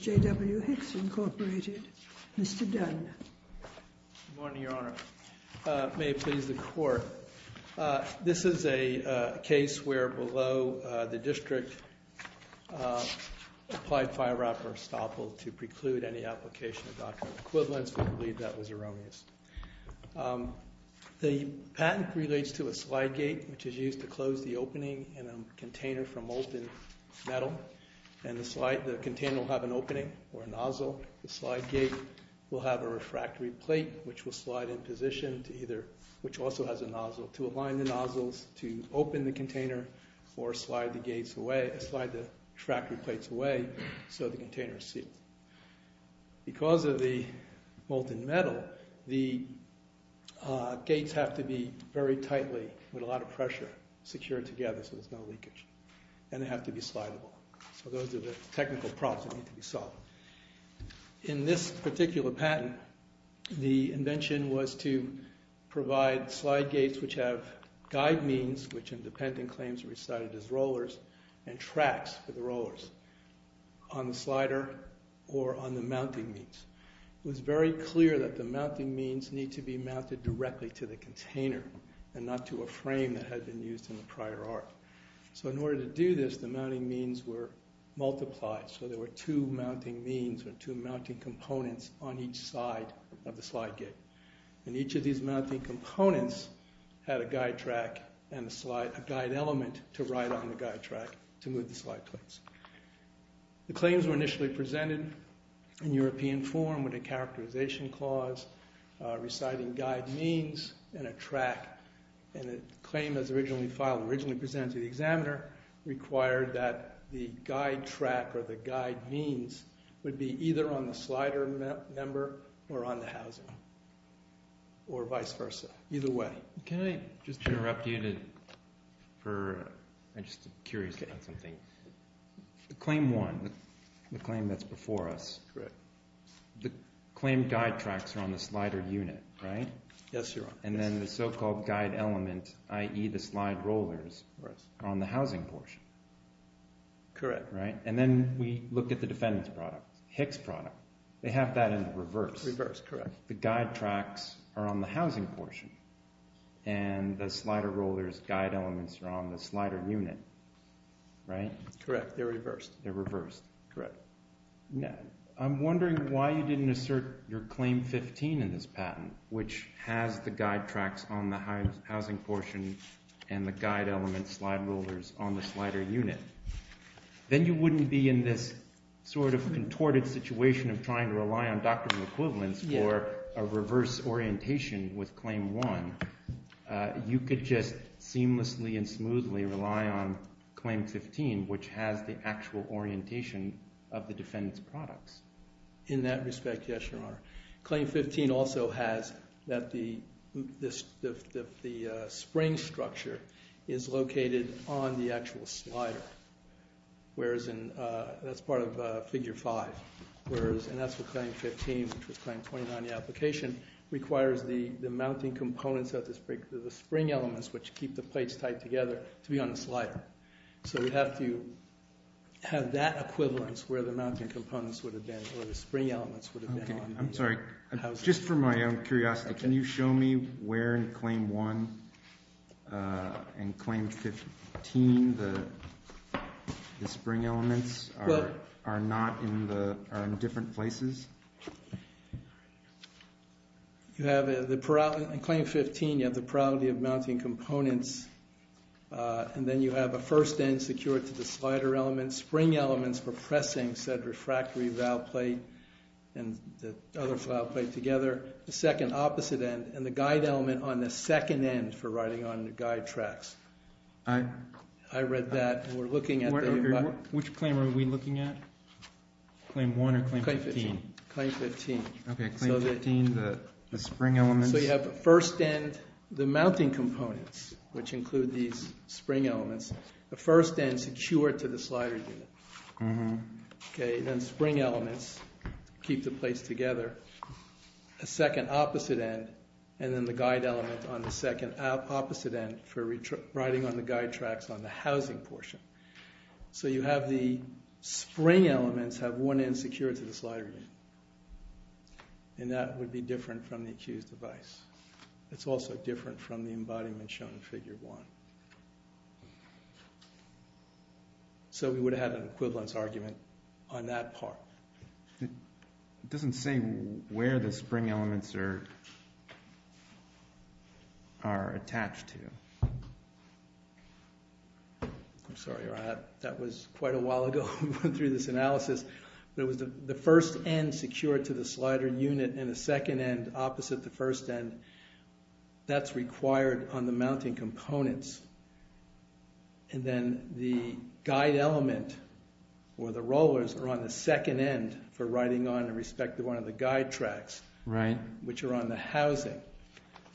J.W. Hicks, Inc. Mr. Dunne. Good morning, Your Honor. May it please the Court, this is a case where below the district applied file wrapper estoppel to preclude any application of doctrinal equivalence. We believe that was erroneous. The patent relates to a slide gate, which is used to close the opening in a container from molten metal, and the slide, the container will have an opening or a nozzle. The slide gate will have a refractory plate, which will slide in position to either, which also has a nozzle, to align the nozzles to open the container or slide the gates away, slide the refractory plates away so the container is sealed. Because of the molten metal, the gates have to be very tightly, with a lot of pressure, secured together so there's no leakage, and they have to be slidable. So those are the technical problems that need to be solved. In this particular patent, the invention was to provide slide gates which have guide means, which in the pending claims are recited as rollers, and tracks for the rollers on the slides or on the mounting means. It was very clear that the mounting means need to be mounted directly to the container and not to a frame that had been used in the prior art. So in order to do this, the mounting means were multiplied, so there were two mounting means or two mounting components on each side of the slide gate. And each of these mounting components had a guide track and a slide, a guide element to ride on the guide track to move the slide plates. The claims were initially presented in European form with a characterization clause reciting guide means and a track, and the claim as originally filed, originally presented to the examiner, required that the guide track or the guide means would be either on the slider member or on the housing, or vice versa, either way. Can I just interrupt you for, I'm just curious about something. Claim one, the claim that's before us, the claim guide tracks are on the slider unit, right? Yes, Your Honor. And then the so-called guide element, i.e. the slide rollers, are on the housing portion. Correct. Right? And then we look at the defendant's product, Hick's product, they have that in reverse. Reverse, correct. So the guide tracks are on the housing portion, and the slider rollers guide elements are on the slider unit, right? Correct. They're reversed. They're reversed. Correct. I'm wondering why you didn't assert your claim 15 in this patent, which has the guide tracks on the housing portion and the guide elements, slide rollers, on the slider unit. Then you wouldn't be in this sort of contorted situation of trying to rely on doctorate equivalents for a reverse orientation with claim one. You could just seamlessly and smoothly rely on claim 15, which has the actual orientation of the defendant's products. In that respect, yes, Your Honor. Claim 15 also has that the spring structure is located on the actual slider. That's part of figure five. And that's what claim 15, which was claim 29 in the application, requires the mounting components of the spring elements, which keep the plates tied together, to be on the slider. So you have to have that equivalence where the mounting components would have been or the spring elements would have been on the housing. I'm sorry. Just for my own curiosity, can you show me where in claim one and claim 15 the spring elements are in different places? In claim 15, you have the probability of mounting components. And then you have a first end secured to the slider element, spring elements for pressing said refractory valve plate and the other valve plate together, the second opposite end, and the guide element on the second end for riding on the guide tracks. I read that. Which claim are we looking at? Claim one or claim 15? Claim 15. Okay, claim 15, the spring elements. So you have the first end, the mounting components, which include these spring elements. The first end secured to the slider unit. Okay, then spring elements keep the plates together. The second opposite end, and then the guide element on the second opposite end for riding on the guide tracks on the housing portion. So you have the spring elements have one end secured to the slider unit. And that would be different from the accused device. It's also different from the embodiment shown in figure one. So we would have an equivalence argument on that part. It doesn't say where the spring elements are attached to. I'm sorry, that was quite a while ago through this analysis. But it was the first end secured to the slider unit and the second end opposite the first end. That's required on the mounting components. And then the guide element or the rollers are on the second end for riding on the respective one of the guide tracks, which are on the housing.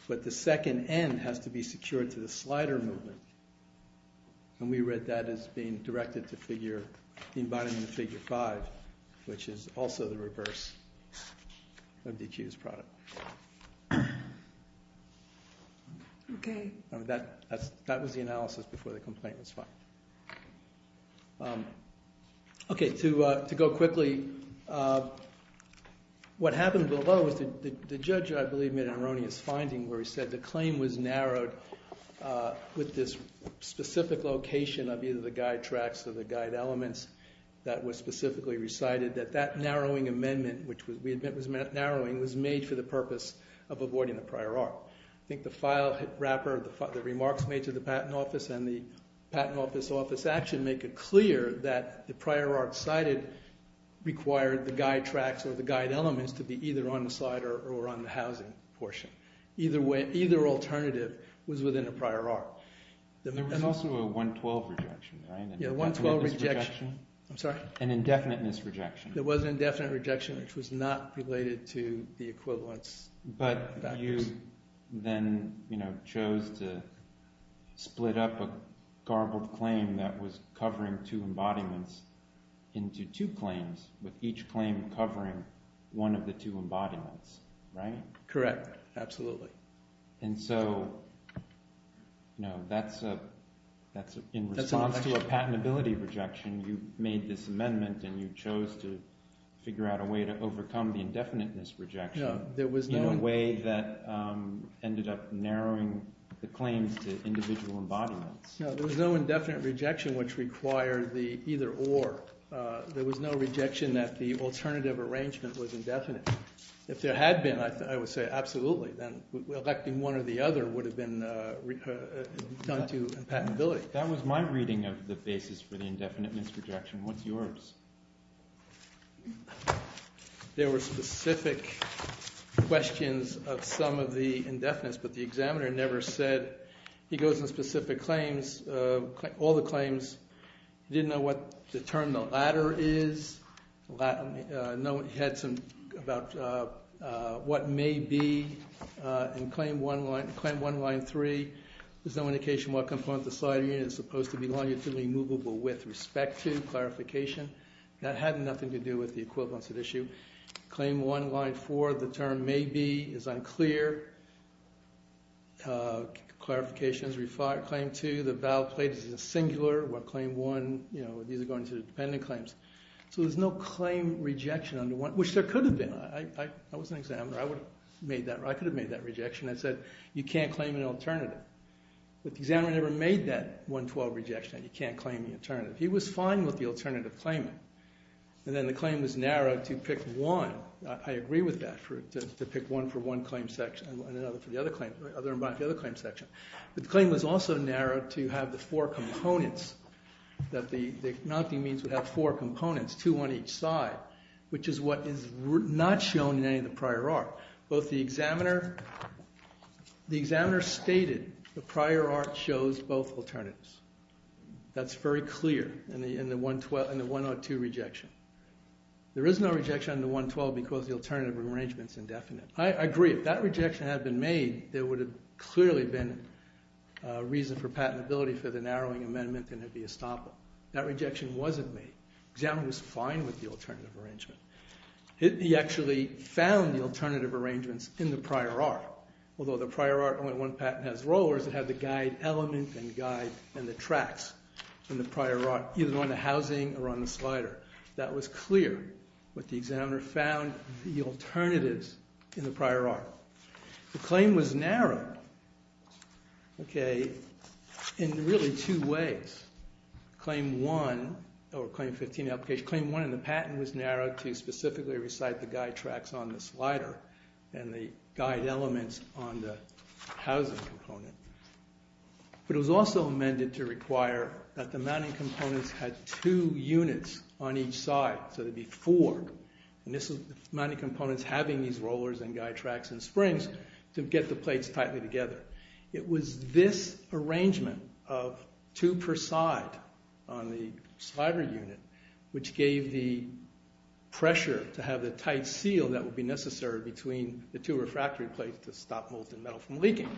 But the second end has to be secured to the slider movement. And we read that as being directed to the embodiment in figure five, which is also the reverse of DQ's product. Okay. That was the analysis before the complaint was filed. Okay, to go quickly, what happened below was the judge, I believe, made an erroneous finding where he said the claim was narrowed with this specific location of either the guide tracks or the guide elements that were specifically recited, that that narrowing amendment, which we admit was narrowing, was made for the purpose of avoiding the prior art. I think the file wrapper, the remarks made to the patent office and the patent office office action make it clear that the prior art cited required the guide tracks or the guide elements to be either on the slider or on the housing portion. Either alternative was within the prior art. There was also a 112 rejection, right? Yeah, 112 rejection. An indefiniteness rejection. There was an indefinite rejection, which was not related to the equivalence. But you then chose to split up a garbled claim that was covering two embodiments into two claims, with each claim covering one of the two embodiments, right? Correct, absolutely. And so that's in response to a patentability rejection, you made this amendment and you chose to figure out a way to overcome the indefiniteness rejection in a way that ended up narrowing the claims to individual embodiments. No, there was no indefinite rejection which required the either or. There was no rejection that the alternative arrangement was indefinite. If there had been, I would say absolutely. Then electing one or the other would have been done to patentability. That was my reading of the basis for the indefiniteness rejection. What's yours? There were specific questions of some of the indefinites, but the examiner never said. He goes in specific claims, all the claims. He didn't know what the term the latter is. He had some about what may be in claim one line three. There's no indication what component of the sliding unit is supposed to be longitudinally movable with respect to clarification. That had nothing to do with the equivalence at issue. Claim one line four, the term may be is unclear. Clarification is claim two. The vowel plate is singular. What claim one, you know, these are going to dependent claims. So there's no claim rejection under one, which there could have been. I was an examiner. I could have made that rejection. I said, you can't claim an alternative. But the examiner never made that 112 rejection. You can't claim the alternative. He was fine with the alternative claim. And then the claim was narrowed to pick one. I agree with that, to pick one for one claim section and another for the other claim section. The claim was also narrowed to have the four components, that the mounting means would have four components, two on each side, which is what is not shown in any of the prior art. Both the examiner stated the prior art shows both alternatives. That's very clear in the 102 rejection. There is no rejection under 112 because the alternative arrangement is indefinite. I agree. If that rejection had been made, there would have clearly been a reason for patentability for the narrowing amendment and it would be a stopper. That rejection wasn't made. The examiner was fine with the alternative arrangement. He actually found the alternative arrangements in the prior art. Although the prior art, only one patent has rollers, it had the guide element and guide and the tracks in the prior art, either on the housing or on the slider. That was clear. But the examiner found the alternatives in the prior art. The claim was narrowed, okay, in really two ways. Claim one, or claim 15 application, which is claim one and the patent was narrowed to specifically recite the guide tracks on the slider and the guide elements on the housing component. But it was also amended to require that the mounting components had two units on each side, so there would be four. And this is the mounting components having these rollers and guide tracks and springs to get the plates tightly together. It was this arrangement of two per side on the slider unit, which gave the pressure to have the tight seal that would be necessary between the two refractory plates to stop molten metal from leaking.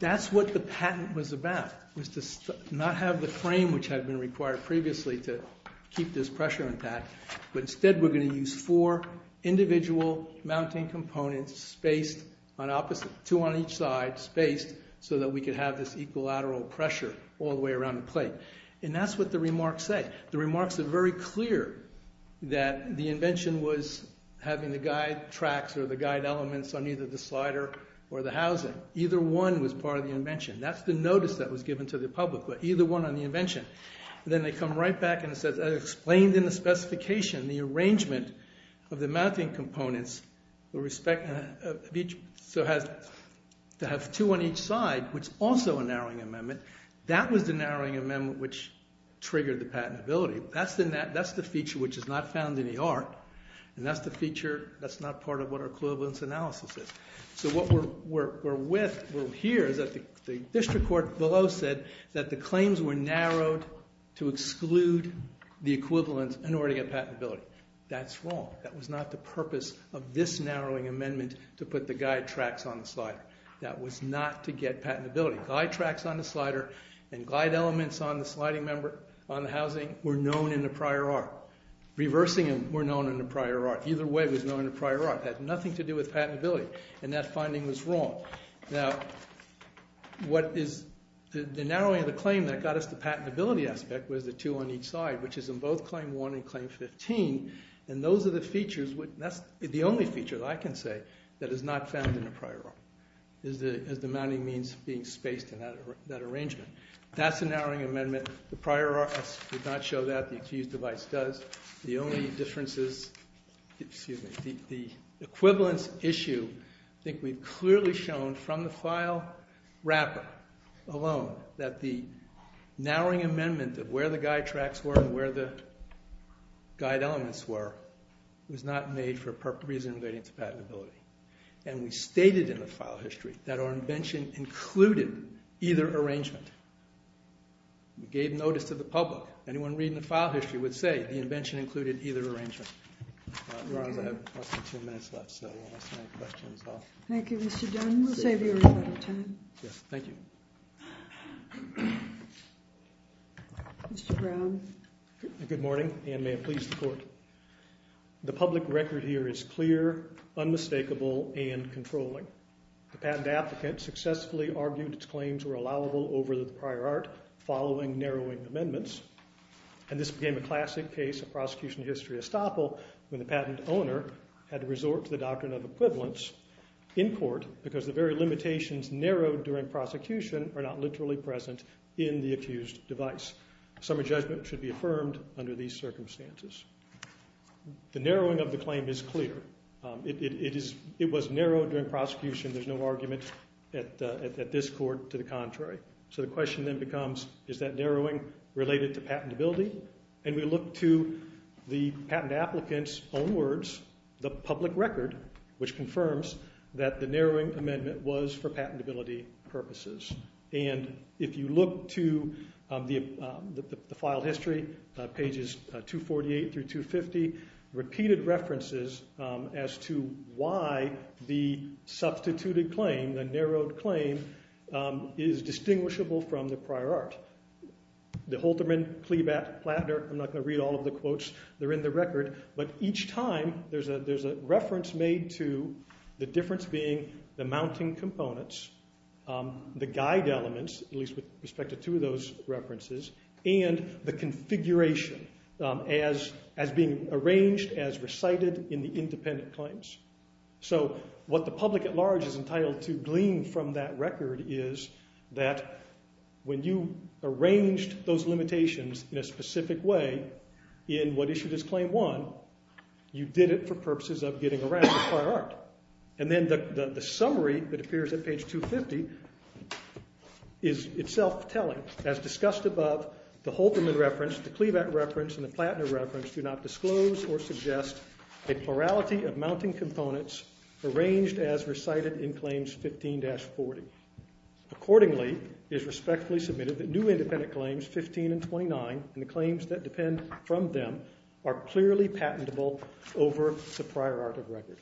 That's what the patent was about, was to not have the frame which had been required previously to keep this pressure intact, but instead we're going to use four individual mounting components spaced on opposite, two on each side, spaced so that we could have this equilateral pressure all the way around the plate. And that's what the remarks say. The remarks are very clear that the invention was having the guide tracks or the guide elements on either the slider or the housing. Either one was part of the invention. That's the notice that was given to the public, but either one on the invention. Then they come right back and it says, explained in the specification the arrangement of the mounting components to have two on each side, which is also a narrowing amendment. That was the narrowing amendment which triggered the patentability. That's the feature which is not found in the art, and that's the feature that's not part of what our equivalence analysis is. So what we're with here is that the district court below said that the claims were narrowed to exclude the equivalence in order to get patentability. That's wrong. That was not the purpose of this narrowing amendment to put the guide tracks on the slider. That was not to get patentability. Guide tracks on the slider and guide elements on the housing were known in the prior art. Reversing them were known in the prior art. Either way was known in the prior art. It had nothing to do with patentability, and that finding was wrong. Now, the narrowing of the claim that got us the patentability aspect was the two on each side, which is in both Claim 1 and Claim 15, and those are the features. That's the only feature that I can say that is not found in the prior art as the mounting means being spaced in that arrangement. That's the narrowing amendment. The prior art does not show that. The accused device does. The only difference is the equivalence issue. I think we've clearly shown from the file wrapper alone that the narrowing amendment of where the guide tracks were and where the guide elements were was not made for a reason relating to patentability. And we stated in the file history that our invention included either arrangement. We gave notice to the public. Anyone reading the file history would say the invention included either arrangement. Mr. Brown. Good morning, and may it please the Court. The public record here is clear, unmistakable, and controlling. The patent applicant successfully argued its claims were allowable over the prior art following narrowing amendments, and this became a classic case of prosecution history estoppel when the patent owner had to resort to the doctrine of equivalence in court because the very limitations narrowed during prosecution are not literally present in the accused device. Summary judgment should be affirmed under these circumstances. The narrowing of the claim is clear. It was narrowed during prosecution. There's no argument at this court to the contrary. So the question then becomes, is that narrowing related to patentability? And we look to the patent applicant's own words, the public record, which confirms that the narrowing amendment was for patentability purposes. And if you look to the file history, pages 248 through 250, repeated references as to why the substituted claim, the narrowed claim, is distinguishable from the prior art. The Hulterman, Klebat, Plattner, I'm not going to read all of the quotes, they're in the record, but each time there's a reference made to the difference being the mounting components, the guide elements, at least with respect to two of those references, and the configuration as being arranged, as recited in the independent claims. So what the public at large is entitled to glean from that record is that when you arranged those limitations in a specific way in what issued as Claim 1, you did it for purposes of getting around the prior art. And then the summary that appears at page 250 is itself telling, as discussed above, the Hulterman reference, the Klebat reference, and the Plattner reference do not disclose or suggest a plurality of mounting components arranged as recited in Claims 15-40. Accordingly, it is respectfully submitted that new independent claims 15 and 29, and the claims that depend from them, are clearly patentable over the prior art of record.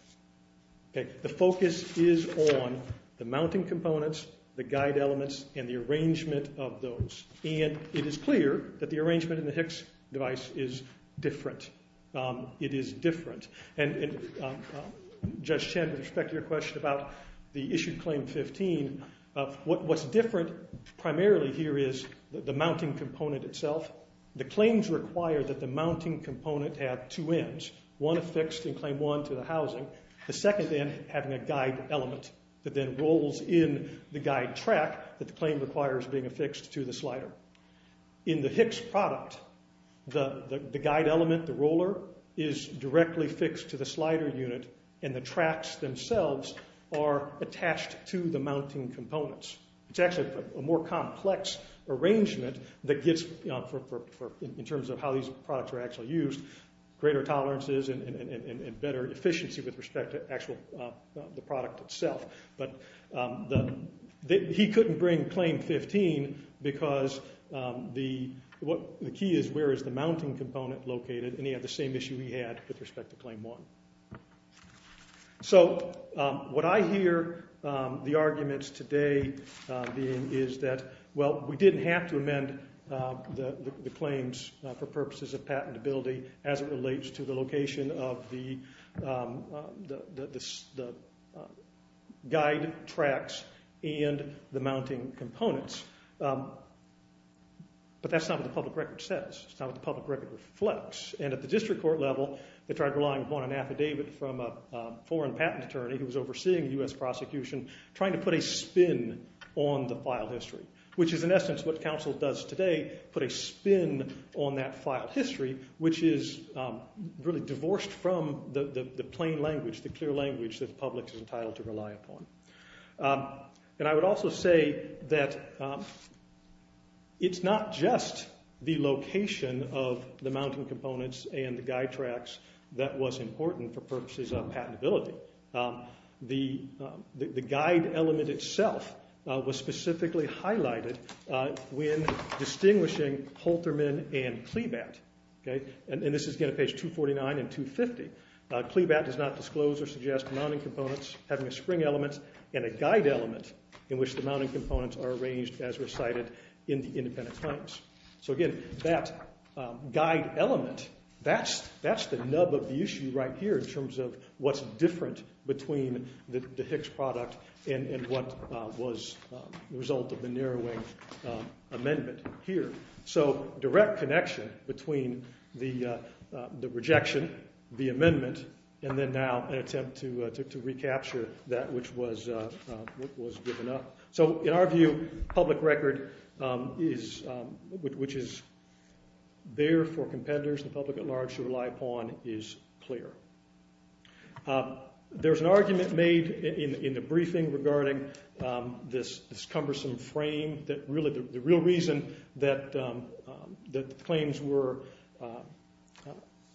The focus is on the mounting components, the guide elements, and the arrangement of those. And it is clear that the arrangement in the Hicks device is different. It is different. And Judge Chen, with respect to your question about the issued Claim 15, what's different primarily here is the mounting component itself. The claims require that the mounting component have two ends, one affixed in Claim 1 to the housing, the second end having a guide element that then rolls in the guide track that the claim requires being affixed to the slider. In the Hicks product, the guide element, the roller, is directly fixed to the slider unit, and the tracks themselves are attached to the mounting components. It's actually a more complex arrangement in terms of how these products are actually used. Greater tolerances and better efficiency with respect to the actual product itself. But he couldn't bring Claim 15 because the key is where is the mounting component located, and he had the same issue he had with respect to Claim 1. So what I hear the arguments today being for purposes of patentability as it relates to the location of the guide tracks and the mounting components. But that's not what the public record says. It's not what the public record reflects. And at the district court level, they tried relying upon an affidavit from a foreign patent attorney who was overseeing U.S. prosecution trying to put a spin on the file history, which is in essence what counsel does today, put a spin on that file history, which is really divorced from the plain language, the clear language that the public is entitled to rely upon. And I would also say that it's not just the location of the mounting components and the guide tracks that was important for purposes of patentability. The guide element itself was specifically highlighted when distinguishing Holterman and Klebat. And this is again at page 249 and 250. Klebat does not disclose or suggest mounting components having a spring element and a guide element in which the mounting components are arranged as recited in the independent claims. So again, that guide element, that's the nub of the issue right here in terms of what's different between the Hicks product and what was the result of the narrowing amendment here. So direct connection between the rejection, the amendment, and then now an attempt to recapture that which was given up. So in our view, public record, which is there for competitors, the public at large to rely upon, is clear. There's an argument made in the briefing regarding this cumbersome frame. The real reason that the claims were...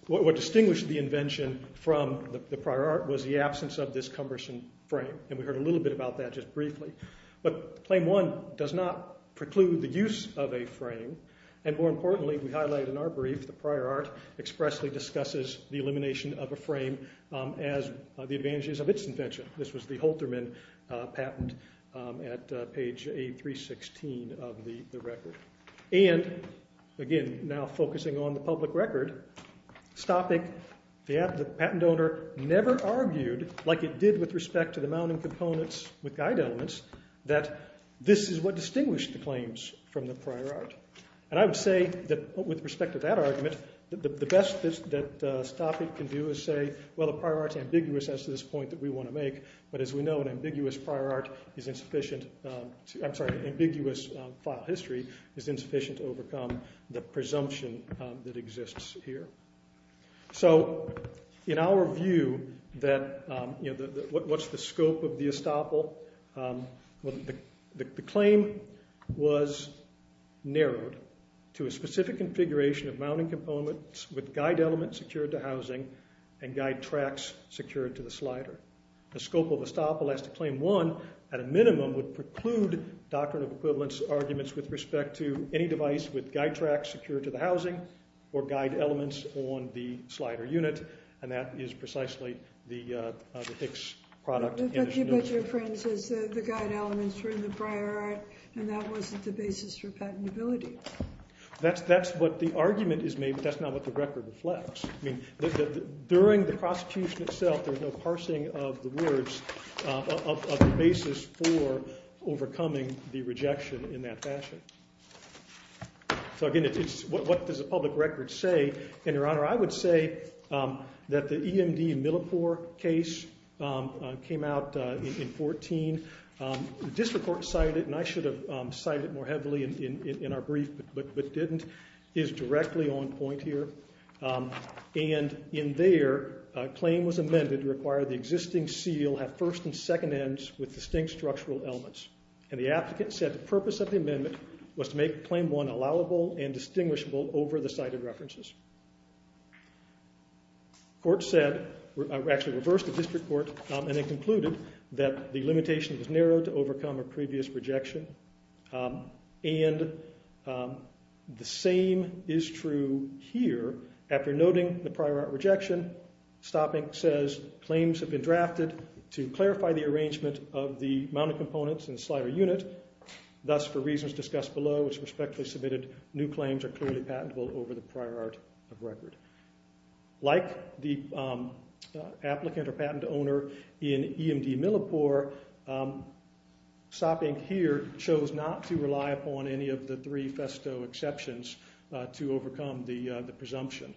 What distinguished the invention from the prior art was the absence of this cumbersome frame. And we heard a little bit about that just briefly. But Claim 1 does not preclude the use of a frame. And more importantly, we highlight in our brief, the prior art expressly discusses the elimination of a frame as the advantages of its invention. This was the Holterman patent at page 316 of the record. And again, now focusing on the public record, stopping the patent owner never argued, like it did with respect to the mounting components with guide elements, that this is what distinguished the claims from the prior art. And I would say that with respect to that argument, the best that Stoppik can do is say, well, the prior art's ambiguous as to this point that we want to make. But as we know, an ambiguous prior art is insufficient... I'm sorry, ambiguous file history is insufficient to overcome the presumption that exists here. So in our view, what's the scope of the estoppel? The claim was narrowed to a specific configuration of mounting components with guide elements secured to housing and guide tracks secured to the slider. The scope of estoppel as to Claim 1, at a minimum, would preclude Doctrine of Equivalence arguments with respect to any device with guide tracks secured to the housing or guide elements on the slider unit. And that is precisely the Hicks product. But your friend says the guide elements were in the prior art and that wasn't the basis for patentability. That's what the argument is made, but that's not what the record reflects. During the prosecution itself, there's no parsing of the words of the basis for overcoming the rejection in that fashion. So again, what does the public record say? And, Your Honor, I would say that the EMD in Millipore case came out in 2014. The district court cited it, and I should have cited it more heavily in our brief, but didn't. It is directly on point here. And in there, a claim was amended to require the existing seal have first and second ends with distinct structural elements. And the applicant said the purpose of the amendment was to make Claim 1 allowable and distinguishable over the cited references. Court said, actually reversed the district court, and it concluded that the limitation was narrow to overcome a previous rejection. And the same is true here. After noting the prior art rejection, Stopping says claims have been drafted to clarify the arrangement of the mounted components and slider unit. Thus, for reasons discussed below, it's respectfully submitted new claims are clearly patentable over the prior art of record. Like the applicant or patent owner in EMD Millipore, Stopping here chose not to rely upon any of the three festo exceptions to overcome the presumption.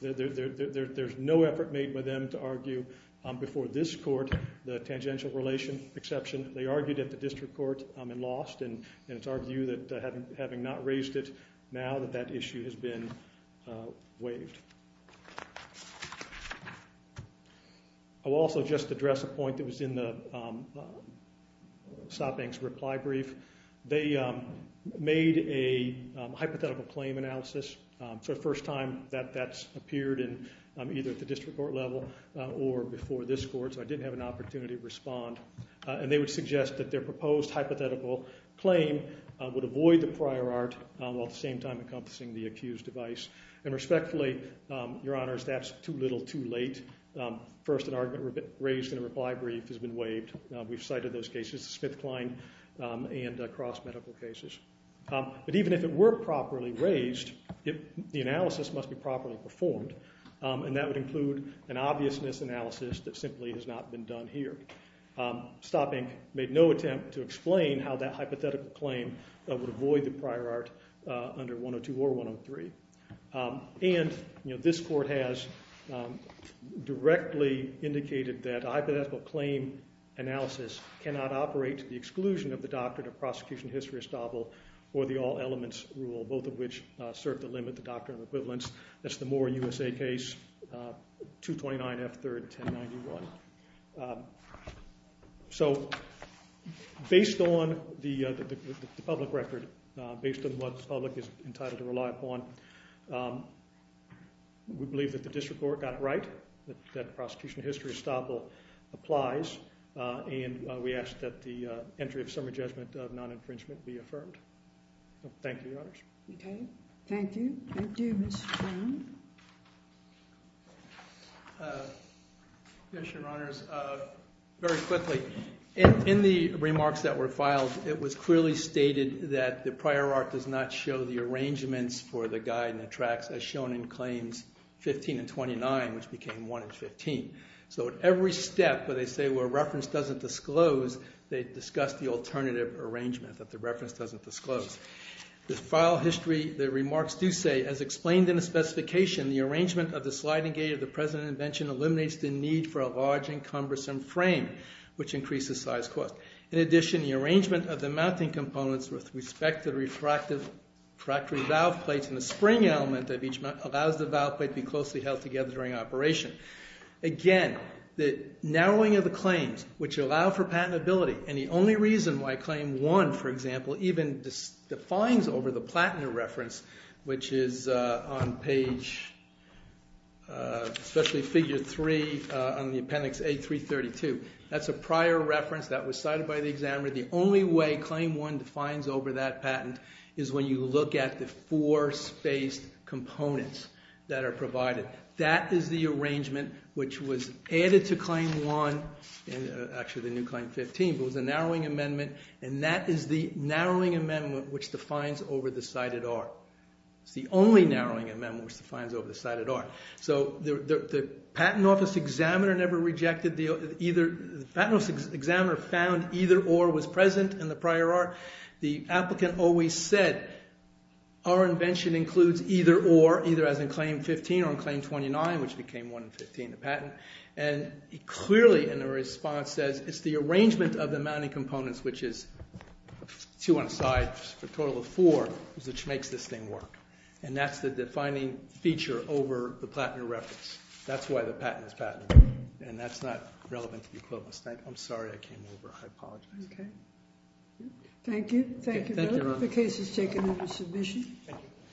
There's no effort made by them to argue before this court the tangential relation exception. They argued at the district court and lost, and it's our view that having not raised it now that that issue has been waived. I will also just address a point that was in Stopping's reply brief. They made a hypothetical claim analysis. So the first time that that's appeared either at the district court level or before this court, so I didn't have an opportunity to respond. And they would suggest that their proposed hypothetical claim would avoid the prior art while at the same time encompassing the accused device. And respectfully, your honors, that's too little too late. First, an argument raised in a reply brief has been waived. We've cited those cases, SmithKline and cross-medical cases. But even if it were properly raised, the analysis must be properly performed. And that would include an obvious misanalysis that simply has not been done here. Stopping made no attempt to explain how that hypothetical claim would avoid the prior art under 102 or 103. And this court has directly indicated that a hypothetical claim analysis cannot operate to the exclusion of the doctrine of prosecution history estoppel or the all elements rule, both of which serve to limit the doctrine of equivalence. That's the Moore USA case, 229 F 3rd, 1091. So based on the public record, based on what the public is entitled to rely upon, we believe that the district court got it right, that prosecution history estoppel applies. And we ask that the entry of summary judgment of non-infringement be affirmed. Thank you, your honors. Thank you. Thank you, Mr. Stone. Yes, your honors. Very quickly, in the remarks that were filed, it was clearly stated that the prior art does not show the arrangements for the guide and the tracts, as shown in claims 15 and 29, which became 1 and 15. So at every step where they say, well, reference doesn't disclose, they discuss the alternative arrangement, that the reference doesn't disclose. The file history, the remarks do say, as explained in the specification, the arrangement of the sliding gate of the present invention eliminates the need for a large and cumbersome frame, which increases size cost. In addition, the arrangement of the mounting components with respect to refractory valve plates in the spring element of each allows the valve plate to be closely held together during operation. Again, the narrowing of the claims, which allow for patentability, and the only reason why Claim 1, for example, even defines over the platen reference, which is on page, especially figure 3 on the appendix A332. That's a prior reference that was cited by the examiner. The only way Claim 1 defines over that patent is when you look at the four spaced components that are provided. That is the arrangement which was added to Claim 1, and actually the new Claim 15. It was a narrowing amendment, and that is the narrowing amendment which defines over the cited R. It's the only narrowing amendment which defines over the cited R. So the patent office examiner found either or was present in the prior R. The applicant always said, our invention includes either or, either as in Claim 15 or in Claim 29, which became 1 in 15, the patent. And clearly in the response says, it's the arrangement of the mounting components, which is two on a side for a total of four, which makes this thing work. And that's the defining feature over the platen reference. That's why the patent is patentable, and that's not relevant to the equivalence. I'm sorry I came over. I apologize. OK. Thank you. Thank you, Bill. The case is taken under submission. Thank you.